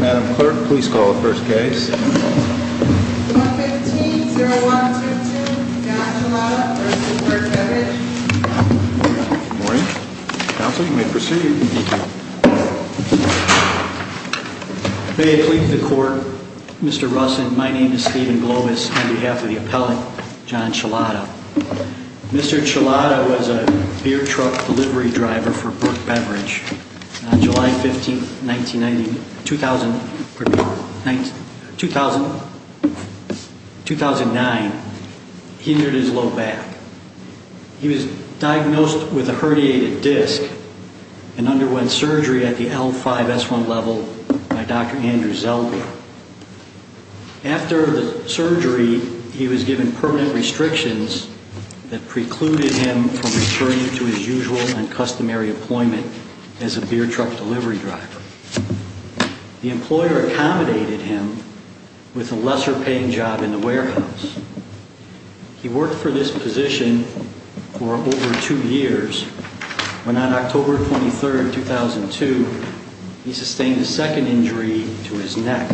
Madam Clerk, please call the first case. 115-0122, John Chlada v. Burke Beverage. Good morning. Counsel, you may proceed. May it please the Court, Mr. Russin, my name is Stephen Glowis, on behalf of the appellate, John Chlada. Mr. Chlada was a beer truck delivery driver for Burke Beverage. On July 15, 1999, he injured his low back. He was diagnosed with a herniated disc and underwent surgery at the L5-S1 level by Dr. Andrew Zelda. After the surgery, he was given permanent restrictions that precluded him from returning to his usual and customary employment as a beer truck delivery driver. The employer accommodated him with a lesser-paying job in the warehouse. He worked for this position for over two years, when on October 23, 2002, he sustained a second injury to his neck.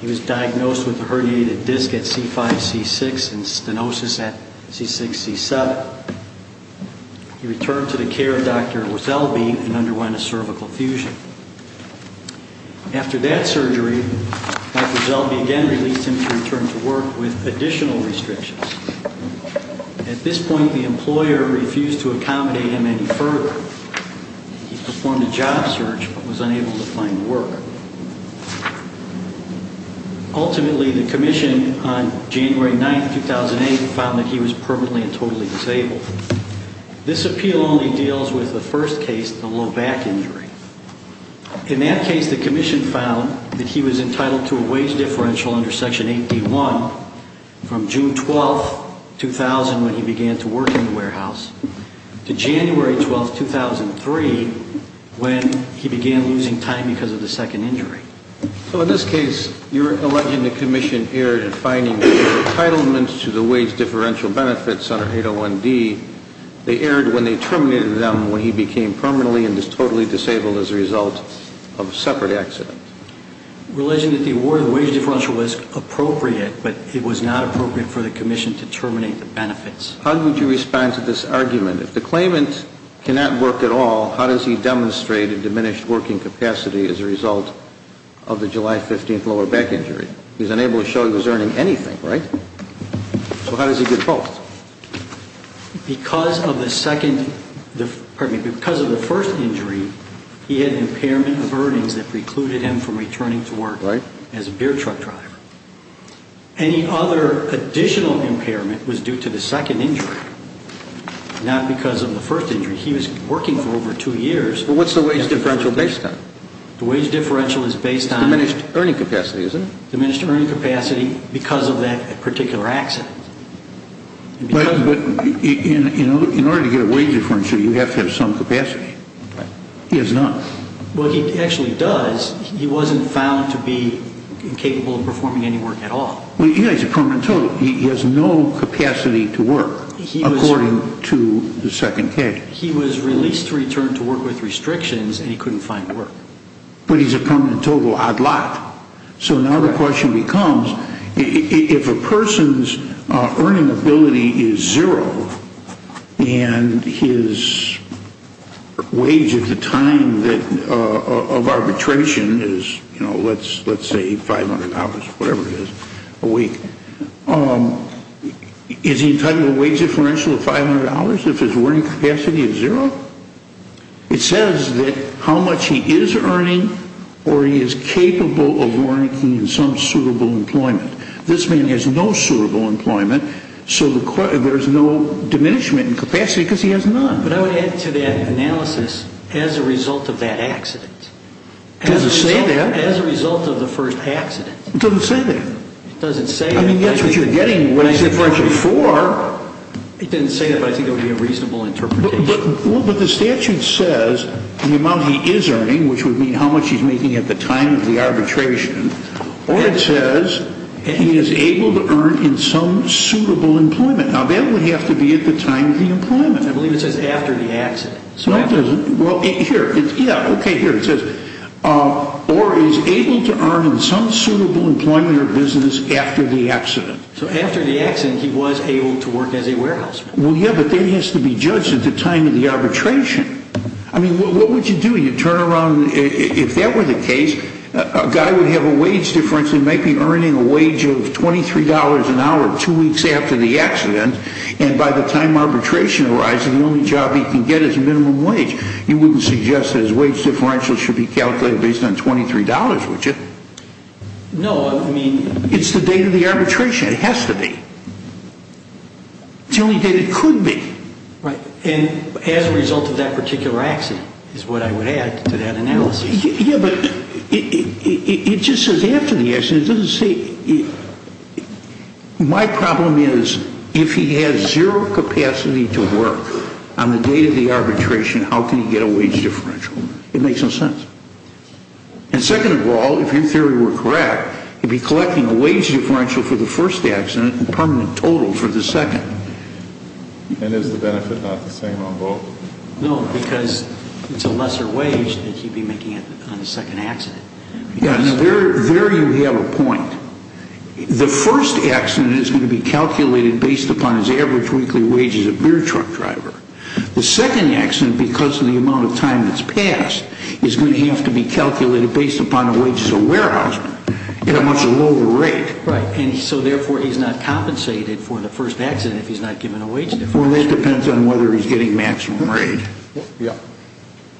He was diagnosed with a herniated disc at C5-C6 and stenosis at C6-C7. He returned to the care of Dr. Wazelby and underwent a cervical fusion. After that surgery, Dr. Wazelby again released him to return to work with additional restrictions. At this point, the employer refused to accommodate him any further. He performed a job search but was unable to find work. Ultimately, the Commission, on January 9, 2008, found that he was permanently and totally disabled. This appeal only deals with the first case, the low back injury. In that case, the Commission found that he was entitled to a wage differential under Section 8D1 from June 12, 2000, when he began to work in the warehouse, to January 12, 2003, when he began losing time because of the second injury. So in this case, you're alleging the Commission erred in finding the entitlements to the wage differential benefits under 801D. They erred when they terminated them when he became permanently and totally disabled as a result of a separate accident. Alleging that the award of the wage differential was appropriate, but it was not appropriate for the Commission to terminate the benefits. How would you respond to this argument? If the claimant cannot work at all, how does he demonstrate a diminished working capacity as a result of the July 15th lower back injury? He's unable to show he was earning anything, right? So how does he get both? Because of the first injury, he had an impairment of earnings that precluded him from returning to work as a beer truck driver. Any other additional impairment was due to the second injury, not because of the first injury. He was working for over two years. What's the wage differential based on? The wage differential is based on... Diminished earning capacity, isn't it? Diminished earning capacity because of that particular accident. But in order to get a wage differential, you have to have some capacity. He has none. Well, he actually does. He wasn't found to be incapable of performing any work at all. He has a permanent total. He has no capacity to work, according to the second case. He was released to return to work with restrictions, and he couldn't find work. But he's a permanent total odd lot. So now the question becomes, if a person's earning ability is zero, and his wage at the time of arbitration is, let's say, $500, whatever it is, a week, is he entitled to a wage differential of $500 if his earning capacity is zero? It says that how much he is earning, or he is capable of working in some suitable employment. This man has no suitable employment, so there's no diminishment in capacity because he has none. But I would add to that analysis, as a result of that accident. It doesn't say that. As a result of the first accident. It doesn't say that. It doesn't say that. I mean, that's what you're getting wage differential for. It didn't say that, but I think it would be a reasonable interpretation. But the statute says the amount he is earning, which would mean how much he's making at the time of the arbitration, or it says he is able to earn in some suitable employment. Now, that would have to be at the time of the employment. I believe it says after the accident. No, it doesn't. Well, here. Yeah, okay. Here it says, or is able to earn in some suitable employment or business after the accident. So after the accident, he was able to work as a warehouse man. Well, yeah, but that has to be judged at the time of the arbitration. I mean, what would you do? You'd turn around. If that were the case, a guy would have a wage difference and might be earning a wage of $23 an hour two weeks after the accident. And by the time arbitration arrives, the only job he can get is minimum wage. You wouldn't suggest that his wage differential should be calculated based on $23, would you? No, I mean. It's the date of the arbitration. It has to be. It's the only date it could be. Right. And as a result of that particular accident is what I would add to that analysis. Yeah, but it just says after the accident. It doesn't say. My problem is if he has zero capacity to work on the date of the arbitration, how can he get a wage differential? It makes no sense. And second of all, if your theory were correct, he'd be collecting a wage differential for the first accident and permanent total for the second. And is the benefit not the same on both? No, because it's a lesser wage that he'd be making on the second accident. Yeah, and there you have a point. The first accident is going to be calculated based upon his average weekly wage as a beer truck driver. The second accident, because of the amount of time that's passed, is going to have to be calculated based upon a wage as a warehouseman at a much lower rate. Right. And so therefore he's not compensated for the first accident if he's not given a wage differential. Well, that depends on whether he's getting maximum rate. Yeah.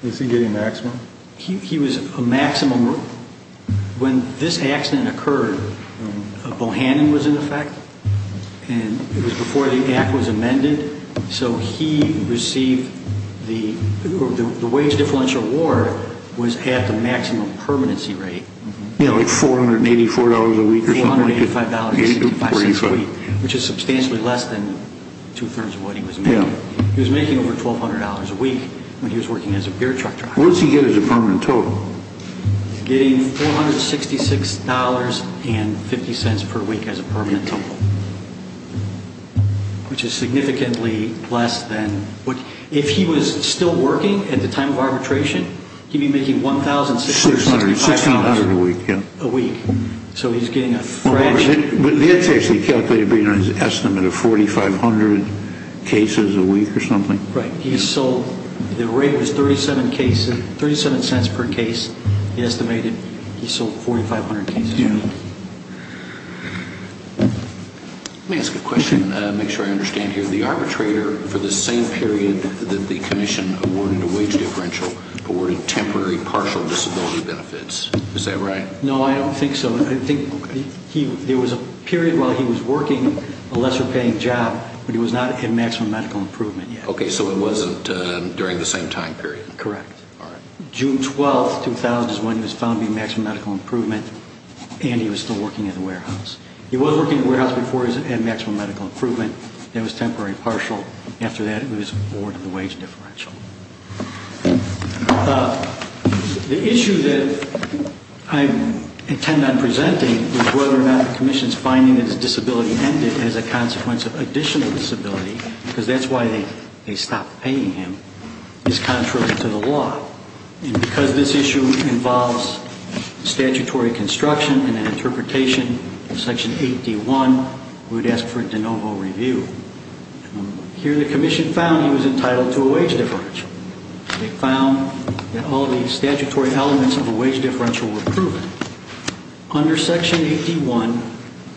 Is he getting maximum? He was a maximum. When this accident occurred, Bohannon was in effect. And it was before the act was amended. So the wage differential award was at the maximum permanency rate. Yeah, like $484 a week or something like that. $485.65 a week, which is substantially less than two-thirds of what he was making. He was making over $1,200 a week when he was working as a beer truck driver. What does he get as a permanent total? He's getting $466.50 per week as a permanent total. Which is significantly less than... If he was still working at the time of arbitration, he'd be making $1,665. $1,600 a week, yeah. A week. So he's getting a fraction... But that's actually calculated based on his estimate of 4,500 cases a week or something. Right. The rate was $0.37 per case. He estimated he sold 4,500 cases a week. Let me ask a question to make sure I understand here. The arbitrator, for the same period that the commission awarded a wage differential, awarded temporary partial disability benefits. Is that right? No, I don't think so. There was a period while he was working a lesser-paying job, but he was not at maximum medical improvement yet. Okay, so it wasn't during the same time period. Correct. June 12, 2000 is when he was found to be at maximum medical improvement, and he was still working at a warehouse. He was working at a warehouse before he was at maximum medical improvement. That was temporary partial. After that, it was awarded the wage differential. The issue that I intend on presenting is whether or not the commission's finding that his disability ended as a consequence of additional disability, because that's why they stopped paying him, is contrary to the law. And because this issue involves statutory construction and interpretation, in Section 8D.1, we would ask for a de novo review. Here, the commission found he was entitled to a wage differential. They found that all the statutory elements of a wage differential were proven. Under Section 8D.1,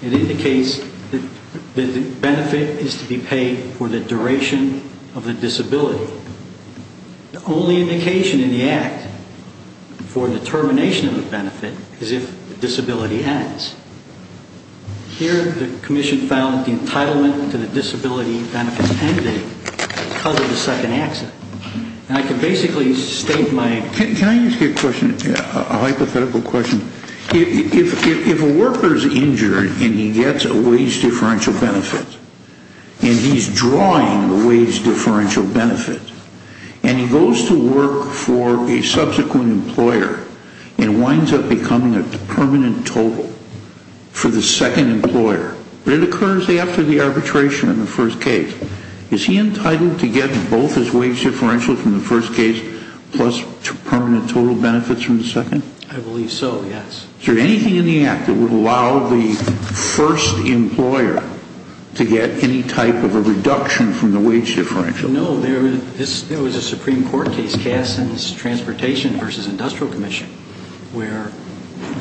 it indicates that the benefit is to be paid for the duration of the disability. So the only indication in the Act for the termination of the benefit is if the disability ends. Here, the commission found the entitlement to the disability benefit ended because of the second accident. And I can basically state my... Can I ask you a hypothetical question? If a worker is injured and he gets a wage differential benefit, and he's drawing the wage differential benefit, and he goes to work for a subsequent employer and winds up becoming a permanent total for the second employer, but it occurs after the arbitration in the first case, is he entitled to get both his wage differentials from the first case plus permanent total benefits from the second? I believe so, yes. Is there anything in the Act that would allow the first employer to get any type of a reduction from the wage differential? No, there was a Supreme Court case, Cassin's Transportation v. Industrial Commission, where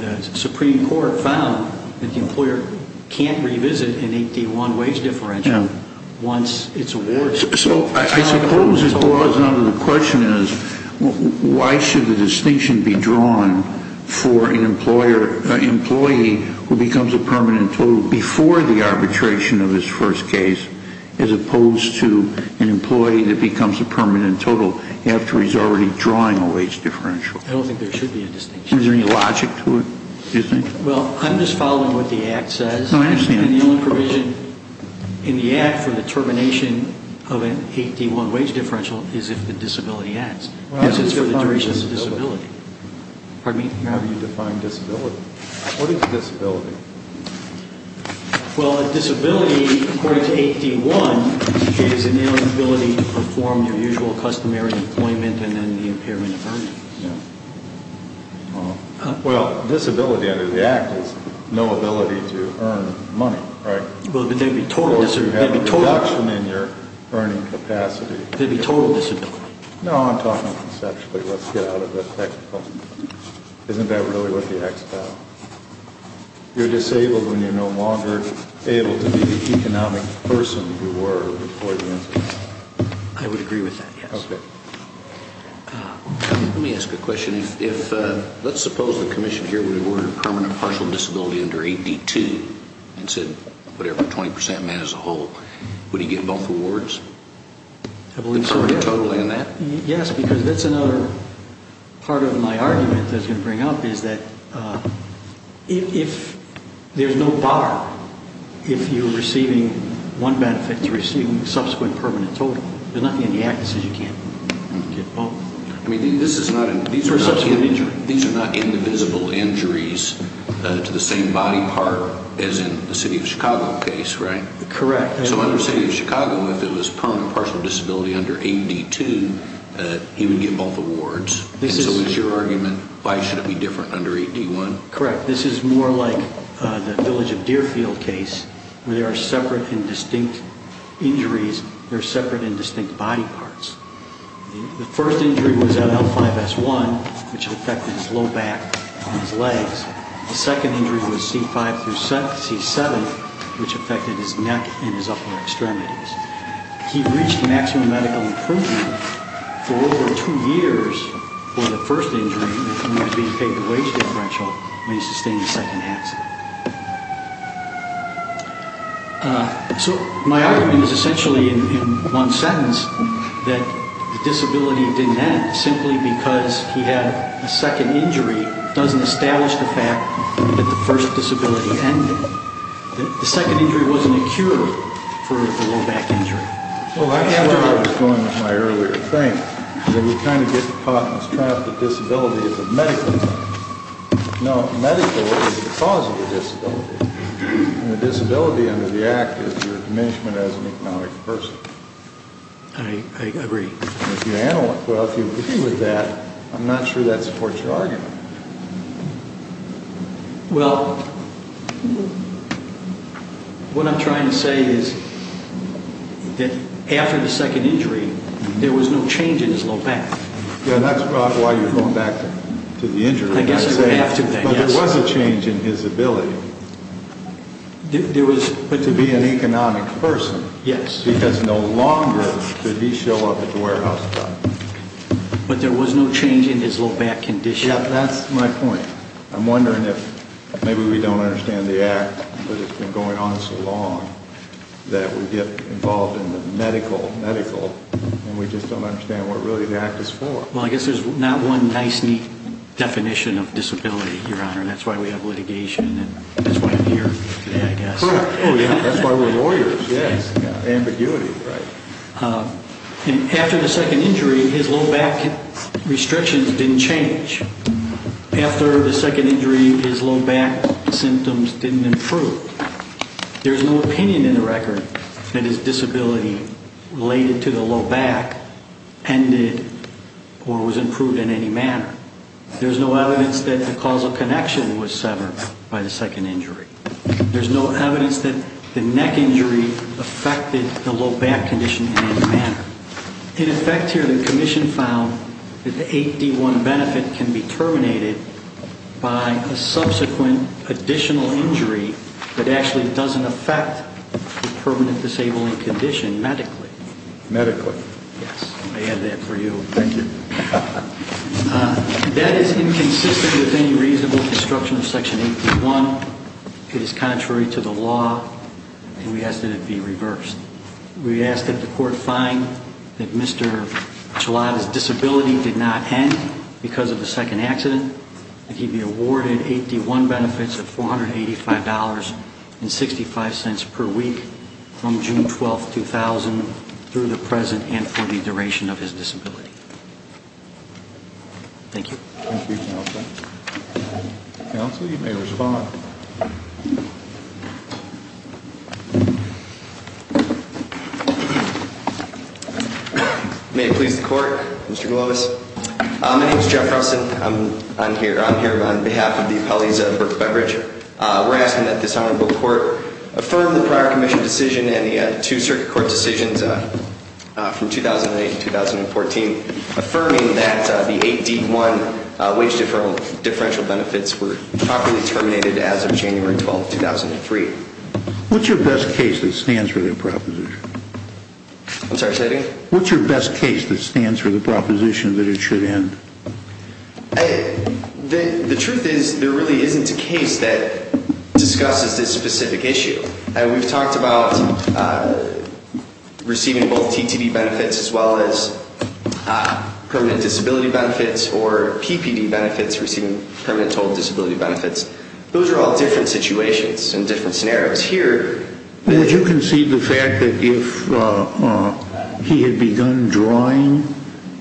the Supreme Court found that the employer can't revisit an 8D.1 wage differential once it's awarded. So I suppose the question is, why should the distinction be drawn for an employee who becomes a permanent total before the arbitration of his first case, as opposed to an employee that becomes a permanent total after he's already drawing a wage differential? I don't think there should be a distinction. Is there any logic to it, do you think? Well, I'm just following what the Act says. No, I understand. And the only provision in the Act for the termination of an 8D.1 wage differential is if the disability adds. Yes, it's for the duration of the disability. Pardon me? How do you define disability? What is a disability? Well, a disability, according to 8D.1, is an inability to perform your usual customary employment and then the impairment of earnings. Yes. Well, disability under the Act is no ability to earn money, right? Well, but there'd be total disability. So you have a reduction in your earning capacity. There'd be total disability. No, I'm talking conceptually. Let's get out of the technical. Isn't that really what the Act's about? You're disabled when you're no longer able to be the economic person you were before the incident. I would agree with that, yes. Okay. Let me ask a question. Let's suppose the Commission here would award a permanent partial disability under 8D.2 and said, whatever, 20% man as a whole. Would he get both awards? I believe so. Yes, because that's another part of my argument that's going to bring up is that if there's no bar, if you're receiving one benefit, you're receiving a subsequent permanent total. There's nothing in the Act that says you can't get both. I mean, these are not indivisible injuries to the same body part as in the City of Chicago case, right? Correct. So under the City of Chicago, if it was permanent partial disability under 8D.2, he would get both awards. So is your argument, why should it be different under 8D.1? Correct. This is more like the Village of Deerfield case where there are separate and distinct injuries. There are separate and distinct body parts. The first injury was at L5-S1, which affected his low back and his legs. The second injury was C5-C7, which affected his neck and his upper extremities. He reached maximum medical improvement for over two years for the first injury when he was being paid the wage differential when he sustained the second accident. So my argument is essentially in one sentence that the disability didn't end simply because he had a second injury doesn't establish the fact that the first disability ended. The second injury wasn't a cure for the low back injury. Well, I have what I was going with my earlier thing. That we kind of get caught in this trap that disability is a medical thing. No, medical is the cause of the disability. And the disability under the Act is your diminishment as an economic person. I agree. Well, if you agree with that, I'm not sure that supports your argument. Well, what I'm trying to say is that after the second injury, there was no change in his low back. Yeah, and that's about why you're going back to the injury. I guess I would have to, yes. But there was a change in his ability to be an economic person. Because no longer did he show up at the warehouse. But there was no change in his low back condition. Yeah, that's my point. I'm wondering if maybe we don't understand the Act, but it's been going on so long that we get involved in the medical, and we just don't understand what really the Act is for. Well, I guess there's not one nice, neat definition of disability, Your Honor. That's why we have litigation, and that's why I'm here today, I guess. That's why we're lawyers, yes. Ambiguity, right. After the second injury, his low back restrictions didn't change. After the second injury, his low back symptoms didn't improve. There's no opinion in the record that his disability related to the low back ended or was improved in any manner. There's no evidence that the causal connection was severed by the second injury. There's no evidence that the neck injury affected the low back condition in any manner. In effect here, the Commission found that the 8D1 benefit can be terminated by a subsequent additional injury that actually doesn't affect the permanent disabling condition medically. Medically. Thank you. That is inconsistent with any reasonable construction of Section 8D1. It is contrary to the law, and we ask that it be reversed. We ask that the Court find that Mr. Chilada's disability did not end because of the second accident, that he be awarded 8D1 benefits of $485.65 per week from June 12, 2000, through the present and for the duration of his disability. Thank you. Thank you, Counsel. Counsel, you may respond. May it please the Court, Mr. Glowis. My name is Jeff Rustin. I'm here on behalf of the appellees of Berk Beverage. We're asking that this Honorable Court affirm the prior Commission decision and the two Circuit Court decisions from 2008 and 2014, affirming that the 8D1 wage differential benefits were properly terminated as of January 12, 2003. What's your best case that stands for the proposition? I'm sorry, say that again? What's your best case that stands for the proposition that it should end? The truth is, there really isn't a case that discusses this specific issue. We've talked about receiving both TTD benefits as well as permanent disability benefits or PPD benefits, receiving permanent total disability benefits. Those are all different situations and different scenarios. Here, would you concede the fact that if he had begun drawing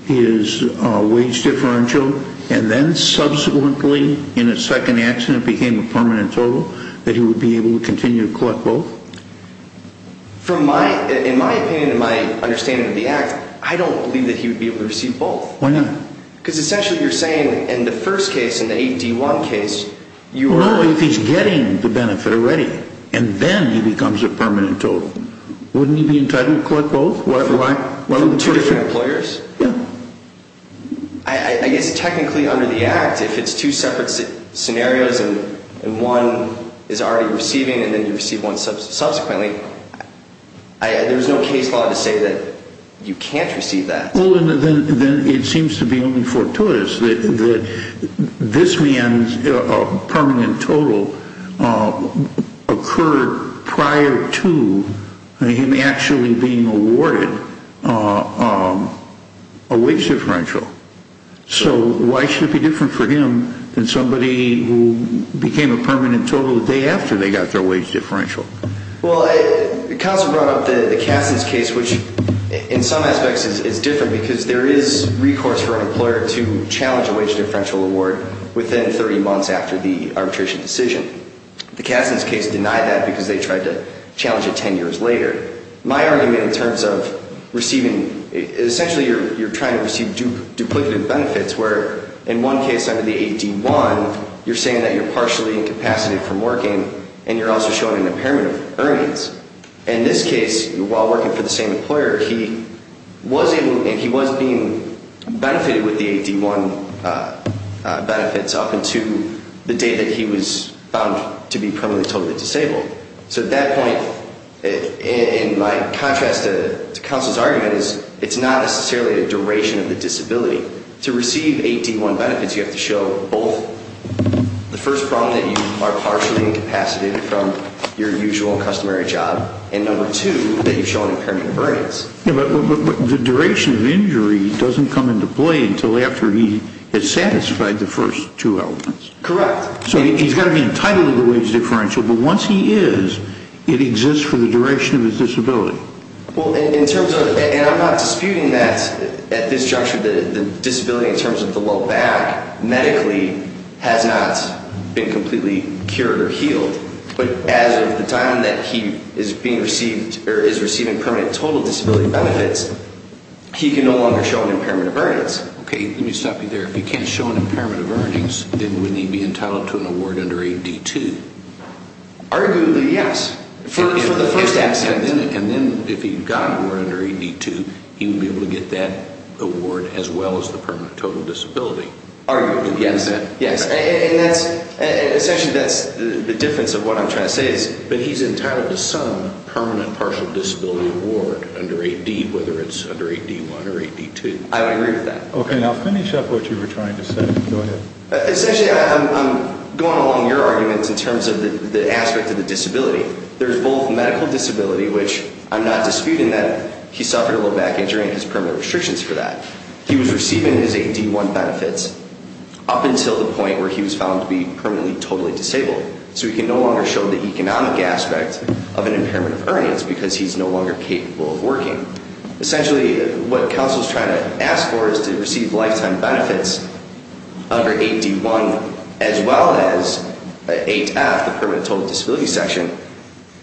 his wage differential and then subsequently, in a second accident, became a permanent total, that he would be able to continue to collect both? From my, in my opinion, in my understanding of the Act, I don't believe that he would be able to receive both. Why not? Because essentially you're saying in the first case, in the 8D1 case, you are... Well, no, if he's getting the benefit already and then he becomes a permanent total. Wouldn't he be entitled to collect both? Why? I guess technically under the Act, if it's two separate scenarios and one is already receiving and then you receive one subsequently, there's no case law to say that you can't receive that. Well, then it seems to be only fortuitous that this man's permanent total occurred prior to him actually being awarded a wage differential. So why should it be different for him than somebody who became a permanent total the day after they got their wage differential? Well, the counsel brought up the Cassidy's case, which in some aspects is different because there is recourse for an employer to challenge a wage differential award within 30 months after the arbitration decision. The Cassidy's case denied that because they tried to challenge it 10 years later. My argument in terms of receiving... Essentially you're trying to receive duplicative benefits where in one case under the 8D1, you're saying that you're partially incapacitated from working and you're also showing an impairment of earnings. In this case, while working for the same employer, he was being benefited with the 8D1 benefits up until the date that he was found to be permanently totally disabled. So at that point, in my contrast to counsel's argument, it's not necessarily a duration of the disability. To receive 8D1 benefits, you have to show both the first problem that you are partially incapacitated from your usual customary job and number two, that you've shown impairment of earnings. But the duration of injury doesn't come into play until after he has satisfied the first two elements. Correct. So he's got to be entitled to the wage differential, but once he is, it exists for the duration of his disability. And I'm not disputing that at this juncture. The disability in terms of the low back medically has not been completely cured or healed. But as of the time that he is receiving permanent total disability benefits, Okay, let me stop you there. If he can't show an impairment of earnings, then wouldn't he be entitled to an award under 8D2? Arguably, yes. For the first accident. And then if he got an award under 8D2, he would be able to get that award as well as the permanent total disability. Arguably, yes. And essentially that's the difference of what I'm trying to say is that he's entitled to some permanent partial disability award under 8D, whether it's under 8D1 or 8D2. I would agree with that. Okay, now finish up what you were trying to say. Go ahead. Essentially, I'm going along your arguments in terms of the aspect of the disability. There's both medical disability, which I'm not disputing that he suffered a low back injury and his permanent restrictions for that. He was receiving his 8D1 benefits up until the point where he was found to be permanently totally disabled. So he can no longer show the economic aspect of an impairment of earnings because he's no longer capable of working. Essentially, what counsel is trying to ask for is to receive lifetime benefits under 8D1 as well as 8F, the permanent total disability section,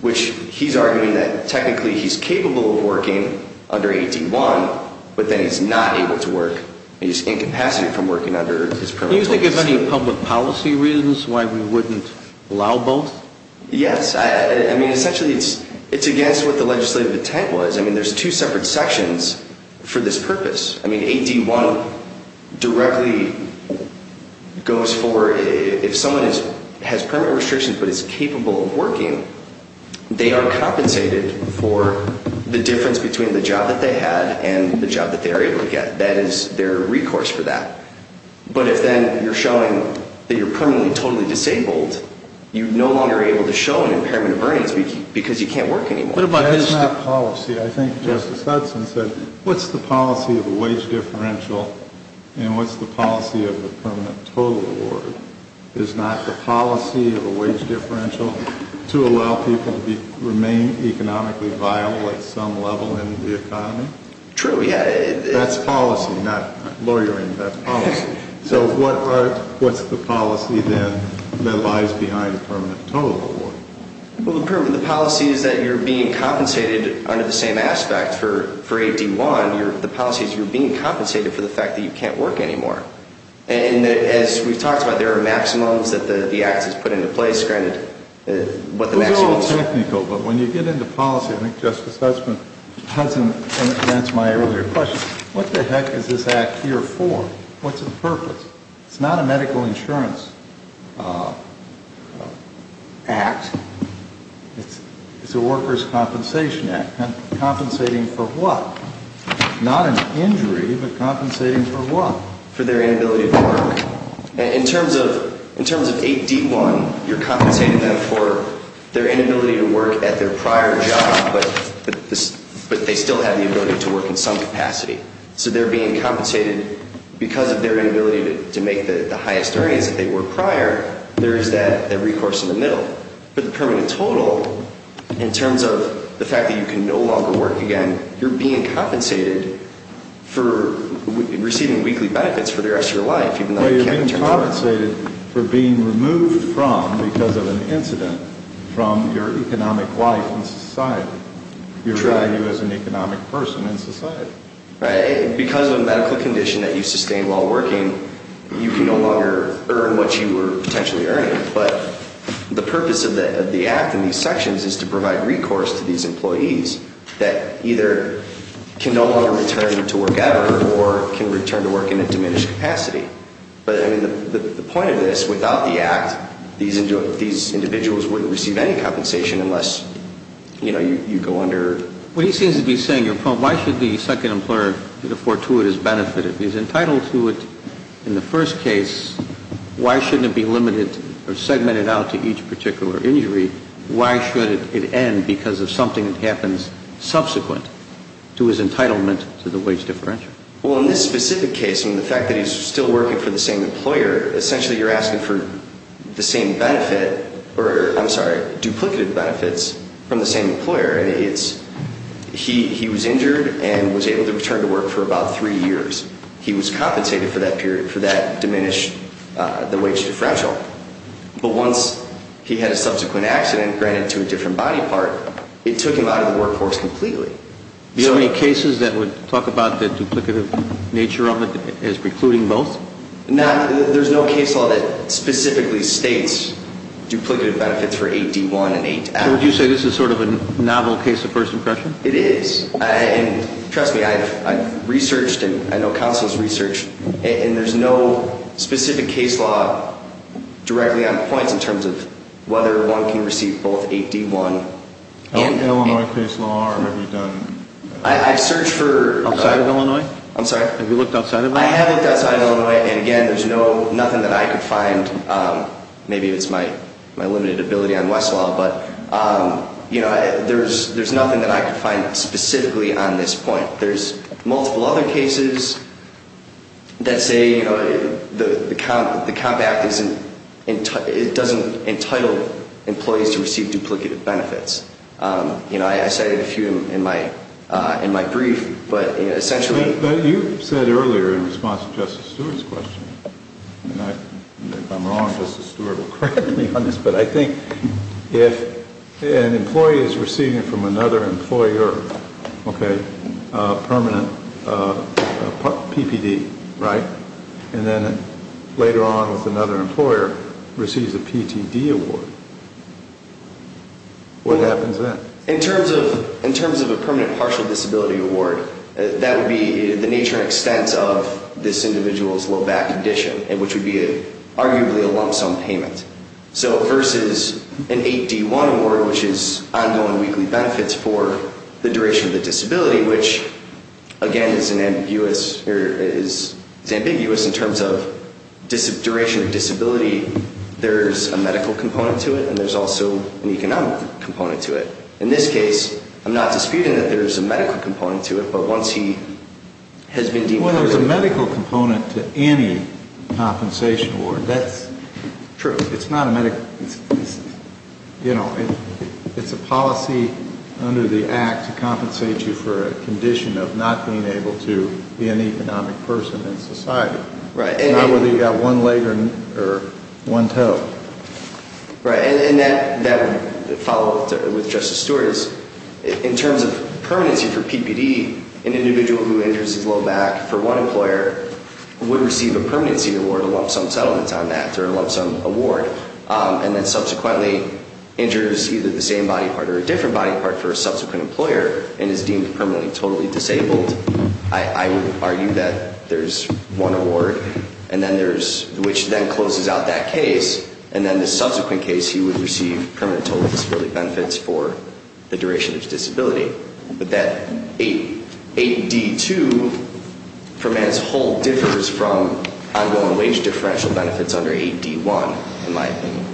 which he's arguing that technically he's capable of working under 8D1, but then he's not able to work. He's incapacitated from working under his permanent total disability. Do you think there's any public policy reasons why we wouldn't allow both? Yes. Essentially, it's against what the legislative intent was. I mean, there's two separate sections for this purpose. I mean, 8D1 directly goes for if someone has permanent restrictions but is capable of working, they are compensated for the difference between the job that they had and the job that they are able to get. That is their recourse for that. But if then you're showing that you're permanently totally disabled, you're no longer able to show an impairment of earnings because you can't work anymore. That's not policy. I think Justice Hudson said, what's the policy of a wage differential and what's the policy of a permanent total award? Is not the policy of a wage differential to allow people to remain economically viable at some level in the economy? True, yeah. That's policy, not lawyering. That's policy. So what's the policy then that lies behind a permanent total award? Well, the policy is that you're being compensated under the same aspect for 8D1. The policy is you're being compensated for the fact that you can't work anymore. And as we've talked about, there are maximums that the Act has put into place. It was all technical, but when you get into policy, I think Justice Hudson answered my earlier question. What the heck is this Act here for? What's the purpose? It's not a medical insurance act. It's a workers' compensation act. Compensating for what? Not an injury, but compensating for what? For their inability to work. In terms of 8D1, you're compensating them for their inability to work at their prior job, but they still have the ability to work in some capacity. So they're being compensated because of their inability to make the highest earnings that they were prior. There is that recourse in the middle. But the permanent total, in terms of the fact that you can no longer work again, you're being compensated for receiving weekly benefits for the rest of your life. But you're being compensated for being removed from, because of an incident, from your economic life in society. Your value as an economic person in society. Because of a medical condition that you sustained while working, you can no longer earn what you were potentially earning. But the purpose of the Act in these sections is to provide recourse to these employees that either can no longer return to work ever, or can return to work in a diminished capacity. But the point of this, without the Act, these individuals wouldn't receive any compensation unless you go under... Well, he seems to be saying, your point, why should the second employer afford to his benefit? If he's entitled to it in the first case, why shouldn't it be limited or segmented out to each particular injury? Why should it end because of something that happens subsequent to his entitlement to the wage differential? Well, in this specific case, in the fact that he's still working for the same employer, essentially you're asking for the same benefit, or, I'm sorry, duplicative benefits from the same employer. He was injured and was able to return to work for about three years. He was compensated for that period, for that diminished wage differential. But once he had a subsequent accident, granted to a different body part, it took him out of the workforce completely. Do you have any cases that would talk about the duplicative nature of it as precluding both? There's no case law that specifically states duplicative benefits for AD1 and AD2. So would you say this is sort of a novel case of first impression? It is. And trust me, I've researched, and I know counsel has researched, and there's no specific case law directly on points in terms of whether one can receive both AD1 and... Illinois case law, or have you done... I've searched for... Outside of Illinois? I'm sorry? Have you looked outside of Illinois? I have looked outside of Illinois, and again, there's nothing that I could find. Maybe it's my limited ability on Westlaw, but there's nothing that I could find specifically on this point. There's multiple other cases that say the Comp Act doesn't entitle employees to receive duplicative benefits. I cited a few in my brief, but essentially... But you said earlier in response to Justice Stewart's question, and if I'm wrong, Justice Stewart will correct me on this, but I think if an employee is receiving from another employer a permanent PPD, right, and then later on with another employer receives a PTD award, what happens then? In terms of a permanent partial disability award, that would be the nature and extent of this individual's low back condition, which would be arguably a lump sum payment. So versus an AD1 award, which is ongoing weekly benefits for the duration of the disability, which, again, is ambiguous in terms of duration of disability. There's a medical component to it, and there's also an economic component to it. In this case, I'm not disputing that there's a medical component to it, but once he has been deemed... Well, there's a medical component to any compensation award. That's true. It's not a medical... You know, it's a policy under the Act to compensate you for a condition of not being able to be an economic person in society. Right. Not whether you've got one leg or one toe. Right, and that follow-up with Justice Stewart is, in terms of permanency for PPD, an individual who injures his low back for one employer would receive a permanency award, a lump sum settlement on that, or a lump sum award, and then subsequently injures either the same body part or a different body part for a subsequent employer and is deemed permanently totally disabled. I would argue that there's one award, which then closes out that case, and then the subsequent case he would receive permanent total disability benefits for the duration of his disability. But that 8D2, for man's whole, differs from ongoing wage differential benefits under 8D1, in my opinion.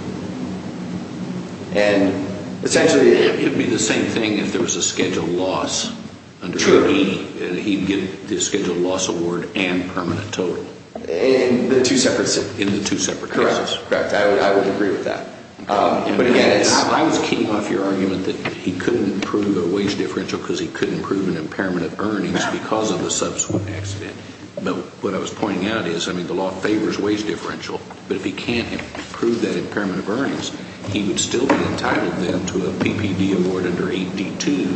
And essentially... It would be the same thing if there was a scheduled loss under 8D. That he'd get the scheduled loss award and permanent total. In the two separate... In the two separate cases. Correct. I would agree with that. But again, it's... I was kicking off your argument that he couldn't prove a wage differential because he couldn't prove an impairment of earnings because of the subsequent accident. But what I was pointing out is, I mean, the law favors wage differential, but if he can't prove that impairment of earnings, he would still be entitled then to a PPD award under 8D2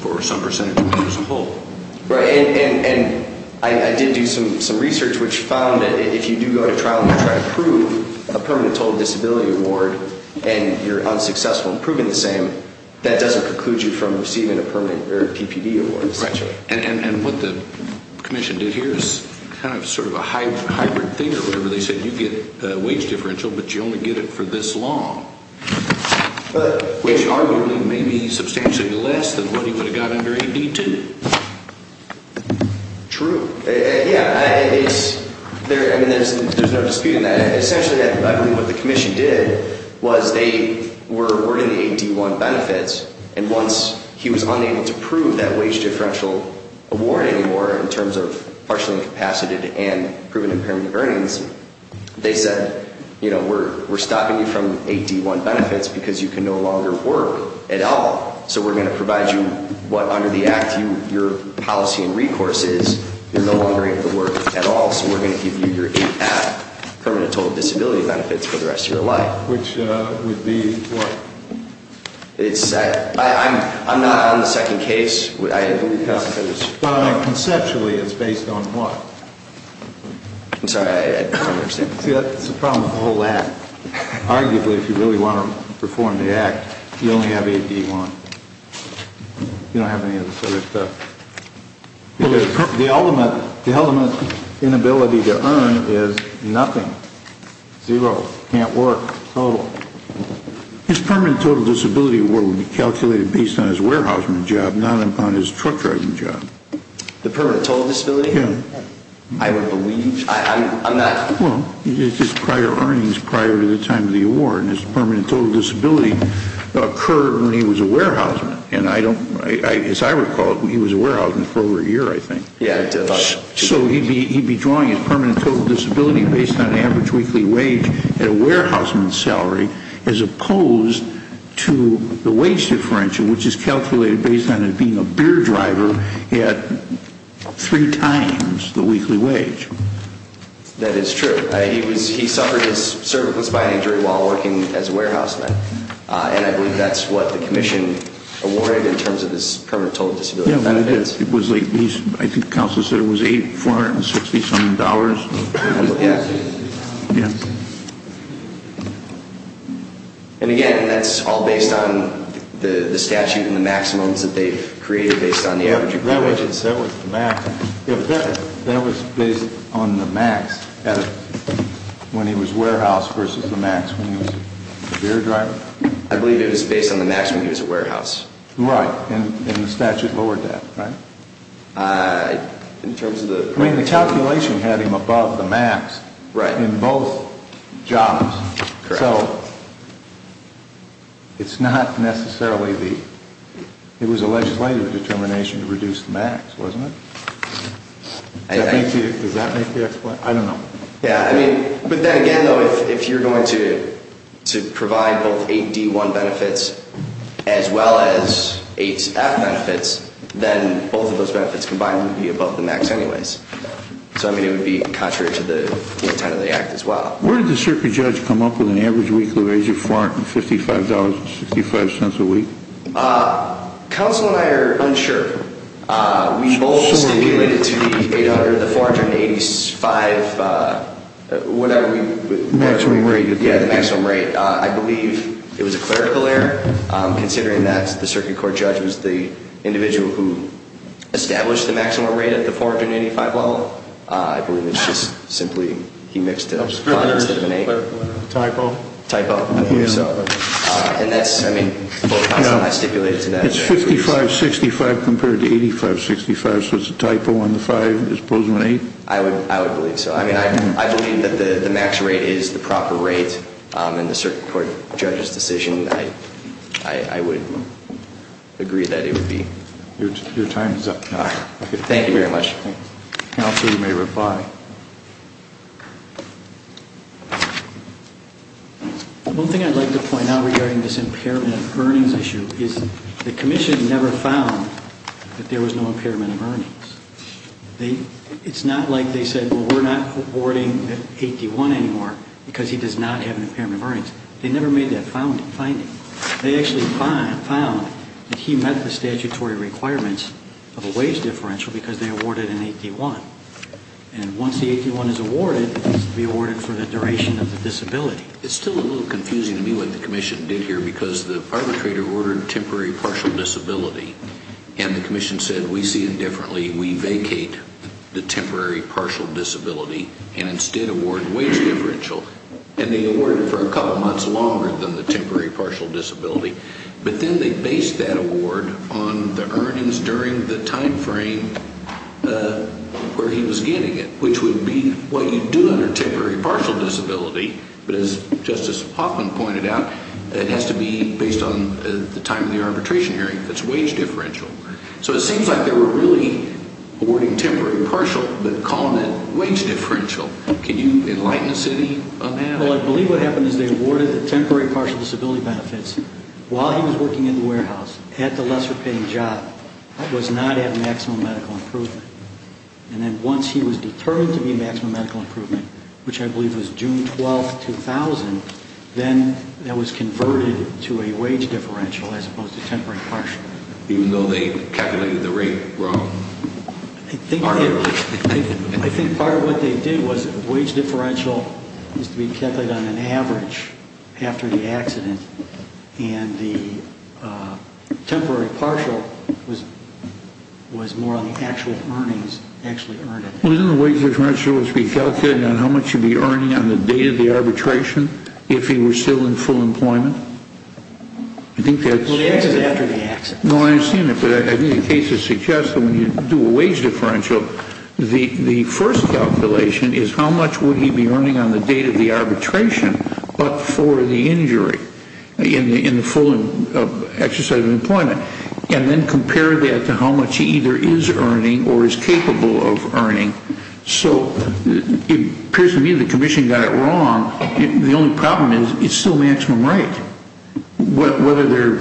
for some percentage of his whole. Right. And I did do some research which found that if you do go to trial and you try to prove a permanent total disability award and you're unsuccessful in proving the same, that doesn't preclude you from receiving a permanent PPD award, essentially. Right. And what the commission did here is kind of sort of a hybrid thing or whatever they said. You get a wage differential, but you only get it for this long. Which arguably may be substantially less than what he would have gotten under 8D2. True. Yeah. I mean, there's no dispute in that. Essentially, I believe what the commission did was they were awarding the 8D1 benefits, and once he was unable to prove that wage differential award anymore in terms of partially incapacitated and proven impairment of earnings, they said, you know, we're stopping you from 8D1 benefits because you can no longer work at all, so we're going to provide you what, under the Act, your policy and recourse is, you're no longer able to work at all, so we're going to give you your 8A, permanent total disability benefits, for the rest of your life. Which would be what? I'm not on the second case. Conceptually, it's based on what? I'm sorry, I don't understand. See, that's the problem with the whole Act. Arguably, if you really want to perform the Act, you only have 8D1. You don't have any of this other stuff. The ultimate inability to earn is nothing. Zero. Can't work. Total. His permanent total disability award would be calculated based on his warehouseman job, not on his truck driving job. The permanent total disability? I would believe. Well, it's his prior earnings prior to the time of the award, and his permanent total disability occurred when he was a warehouseman. As I recall, he was a warehouseman for over a year, I think. So he'd be drawing his permanent total disability based on average weekly wage at a warehouseman's salary, as opposed to the wage differential, which is calculated based on him being a beer driver who had three times the weekly wage. That is true. He suffered his cervical spine injury while working as a warehouseman, and I believe that's what the Commission awarded in terms of his permanent total disability. Yeah, it is. I think the Council said it was $8,467. Yeah. And again, that's all based on the statute and the maximums that they've created based on the average weekly wages. Yeah, that was the max. That was based on the max when he was warehouse versus the max when he was a beer driver? I believe it was based on the max when he was a warehouse. Right. And the statute lowered that, right? In terms of the... I mean, the calculation had him above the max. Right. For both jobs. Correct. So it's not necessarily the... it was a legislative determination to reduce the max, wasn't it? Does that make the explanation? I don't know. Yeah, I mean, but then again, though, if you're going to provide both 8D1 benefits as well as 8F benefits, then both of those benefits combined would be above the max anyways. So, I mean, it would be contrary to the intent of the act as well. Where did the circuit judge come up with an average weekly wage of $55.65 a week? Council and I are unsure. We both stipulated to the $800, the $485, whatever we... Maximum rate. Yeah, the maximum rate. I believe it was a clerical error, considering that the circuit court judge was the individual who established the maximum rate at the $485 level. I believe it's just simply he mixed it up. A typo? A typo. I believe so. And that's, I mean, both counsel and I stipulated to that. It's $55.65 compared to $85.65, so it's a typo on the 5 as opposed to an 8? I would believe so. I mean, I believe that the max rate is the proper rate in the circuit court judge's decision. I would agree that it would be. Your time is up. Thank you very much. Counsel, you may reply. One thing I'd like to point out regarding this impairment of earnings issue is the commission never found that there was no impairment of earnings. It's not like they said, well, we're not awarding an 81 anymore because he does not have an impairment of earnings. They never made that finding. They actually found that he met the statutory requirements of a wage differential because they awarded an 81. And once the 81 is awarded, it needs to be awarded for the duration of the disability. It's still a little confusing to me what the commission did here because the arbitrator ordered temporary partial disability. And the commission said, we see it differently. We vacate the temporary partial disability and instead award wage differential. And they awarded it for a couple of months longer than the temporary partial disability. But then they based that award on the earnings during the time frame where he was getting it, which would be what you do under temporary partial disability. But as Justice Hoffman pointed out, it has to be based on the time of the arbitration hearing. That's wage differential. So it seems like they were really awarding temporary partial, but calling it wage differential. Can you enlighten us any on that? Well, I believe what happened is they awarded the temporary partial disability benefits while he was working in the warehouse at the lesser-paying job. That was not at maximum medical improvement. And then once he was determined to be at maximum medical improvement, which I believe was June 12, 2000, then that was converted to a wage differential as opposed to temporary partial. Even though they calculated the rate wrong? I think part of what they did was wage differential was to be calculated on an average after the accident. And the temporary partial was more on the actual earnings actually earned. Wasn't the wage differential to be calculated on how much you'd be earning on the date of the arbitration if he were still in full employment? I think that's... Well, the answer is after the accident. No, I understand that, but I think the case suggests that when you do a wage differential, the first calculation is how much would he be earning on the date of the arbitration but for the injury in the full exercise of employment. And then compare that to how much he either is earning or is capable of earning. So it appears to me the commission got it wrong. The only problem is it's still maximum right. Whether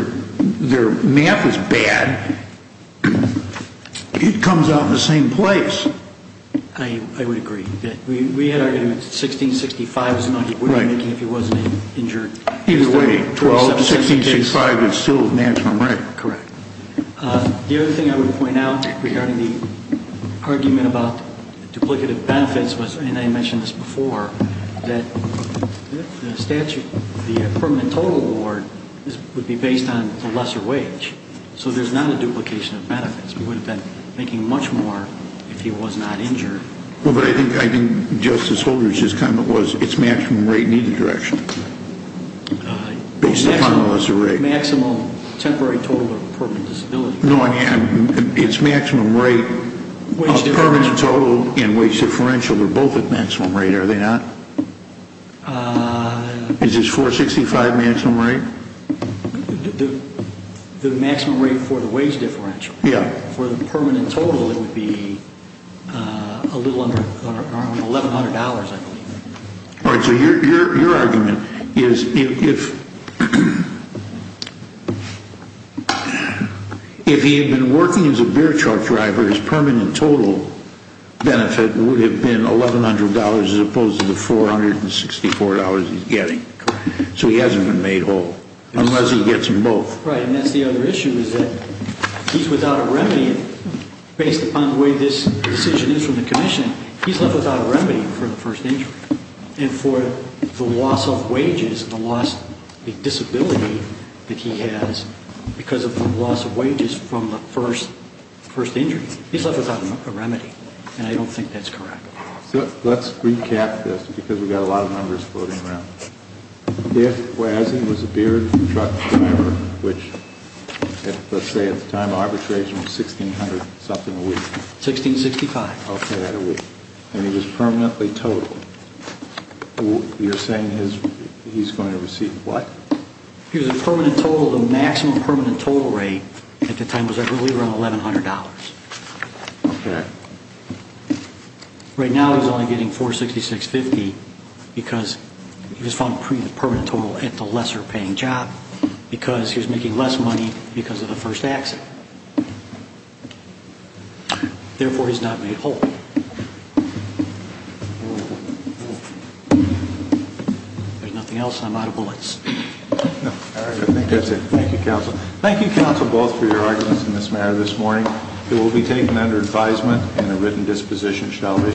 their math is bad, it comes out in the same place. I would agree. We had argued 1665 was not a winning making if he wasn't injured. Either way, 12, 1665 is still maximum right. Correct. The other thing I would point out regarding the argument about duplicative benefits was, and I mentioned this before, that the statute, the permanent total award would be based on the lesser wage. So there's not a duplication of benefits. We would have been making much more if he was not injured. Well, but I think Justice Holder's comment was it's maximum right in either direction. Based upon the lesser rate. The maximum temporary total or permanent disability. No, I mean, it's maximum rate of permanent total and wage differential. They're both at maximum rate, are they not? Is it 465 maximum rate? The maximum rate for the wage differential. For the permanent total, it would be a little under $1,100, I believe. All right, so your argument is if he had been working as a beer truck driver, his permanent total benefit would have been $1,100 as opposed to the $464 he's getting. So he hasn't been made whole. Unless he gets them both. Right, and that's the other issue is that he's without a remedy based upon the way this decision is from the commission. He's left without a remedy for the first injury. And for the loss of wages and the disability that he has because of the loss of wages from the first injury, he's left without a remedy. And I don't think that's correct. Let's recap this because we've got a lot of numbers floating around. If Wesson was a beer truck driver, which let's say at the time of arbitration was $1,600 something a week. $1,665. And he was permanently totaled. You're saying he's going to receive what? He was a permanent total, the maximum permanent total rate at the time was I believe around $1,100. Okay. Right now he's only getting $466.50 because he was found permanent total at the lesser paying job because he was making less money because of the first accident. Therefore, he's not made whole. There's nothing else. I'm out of bullets. All right. I think that's it. Thank you, counsel. Thank you, counsel, both for your arguments in this matter this morning. It will be taken under advisement and a written disposition shall be.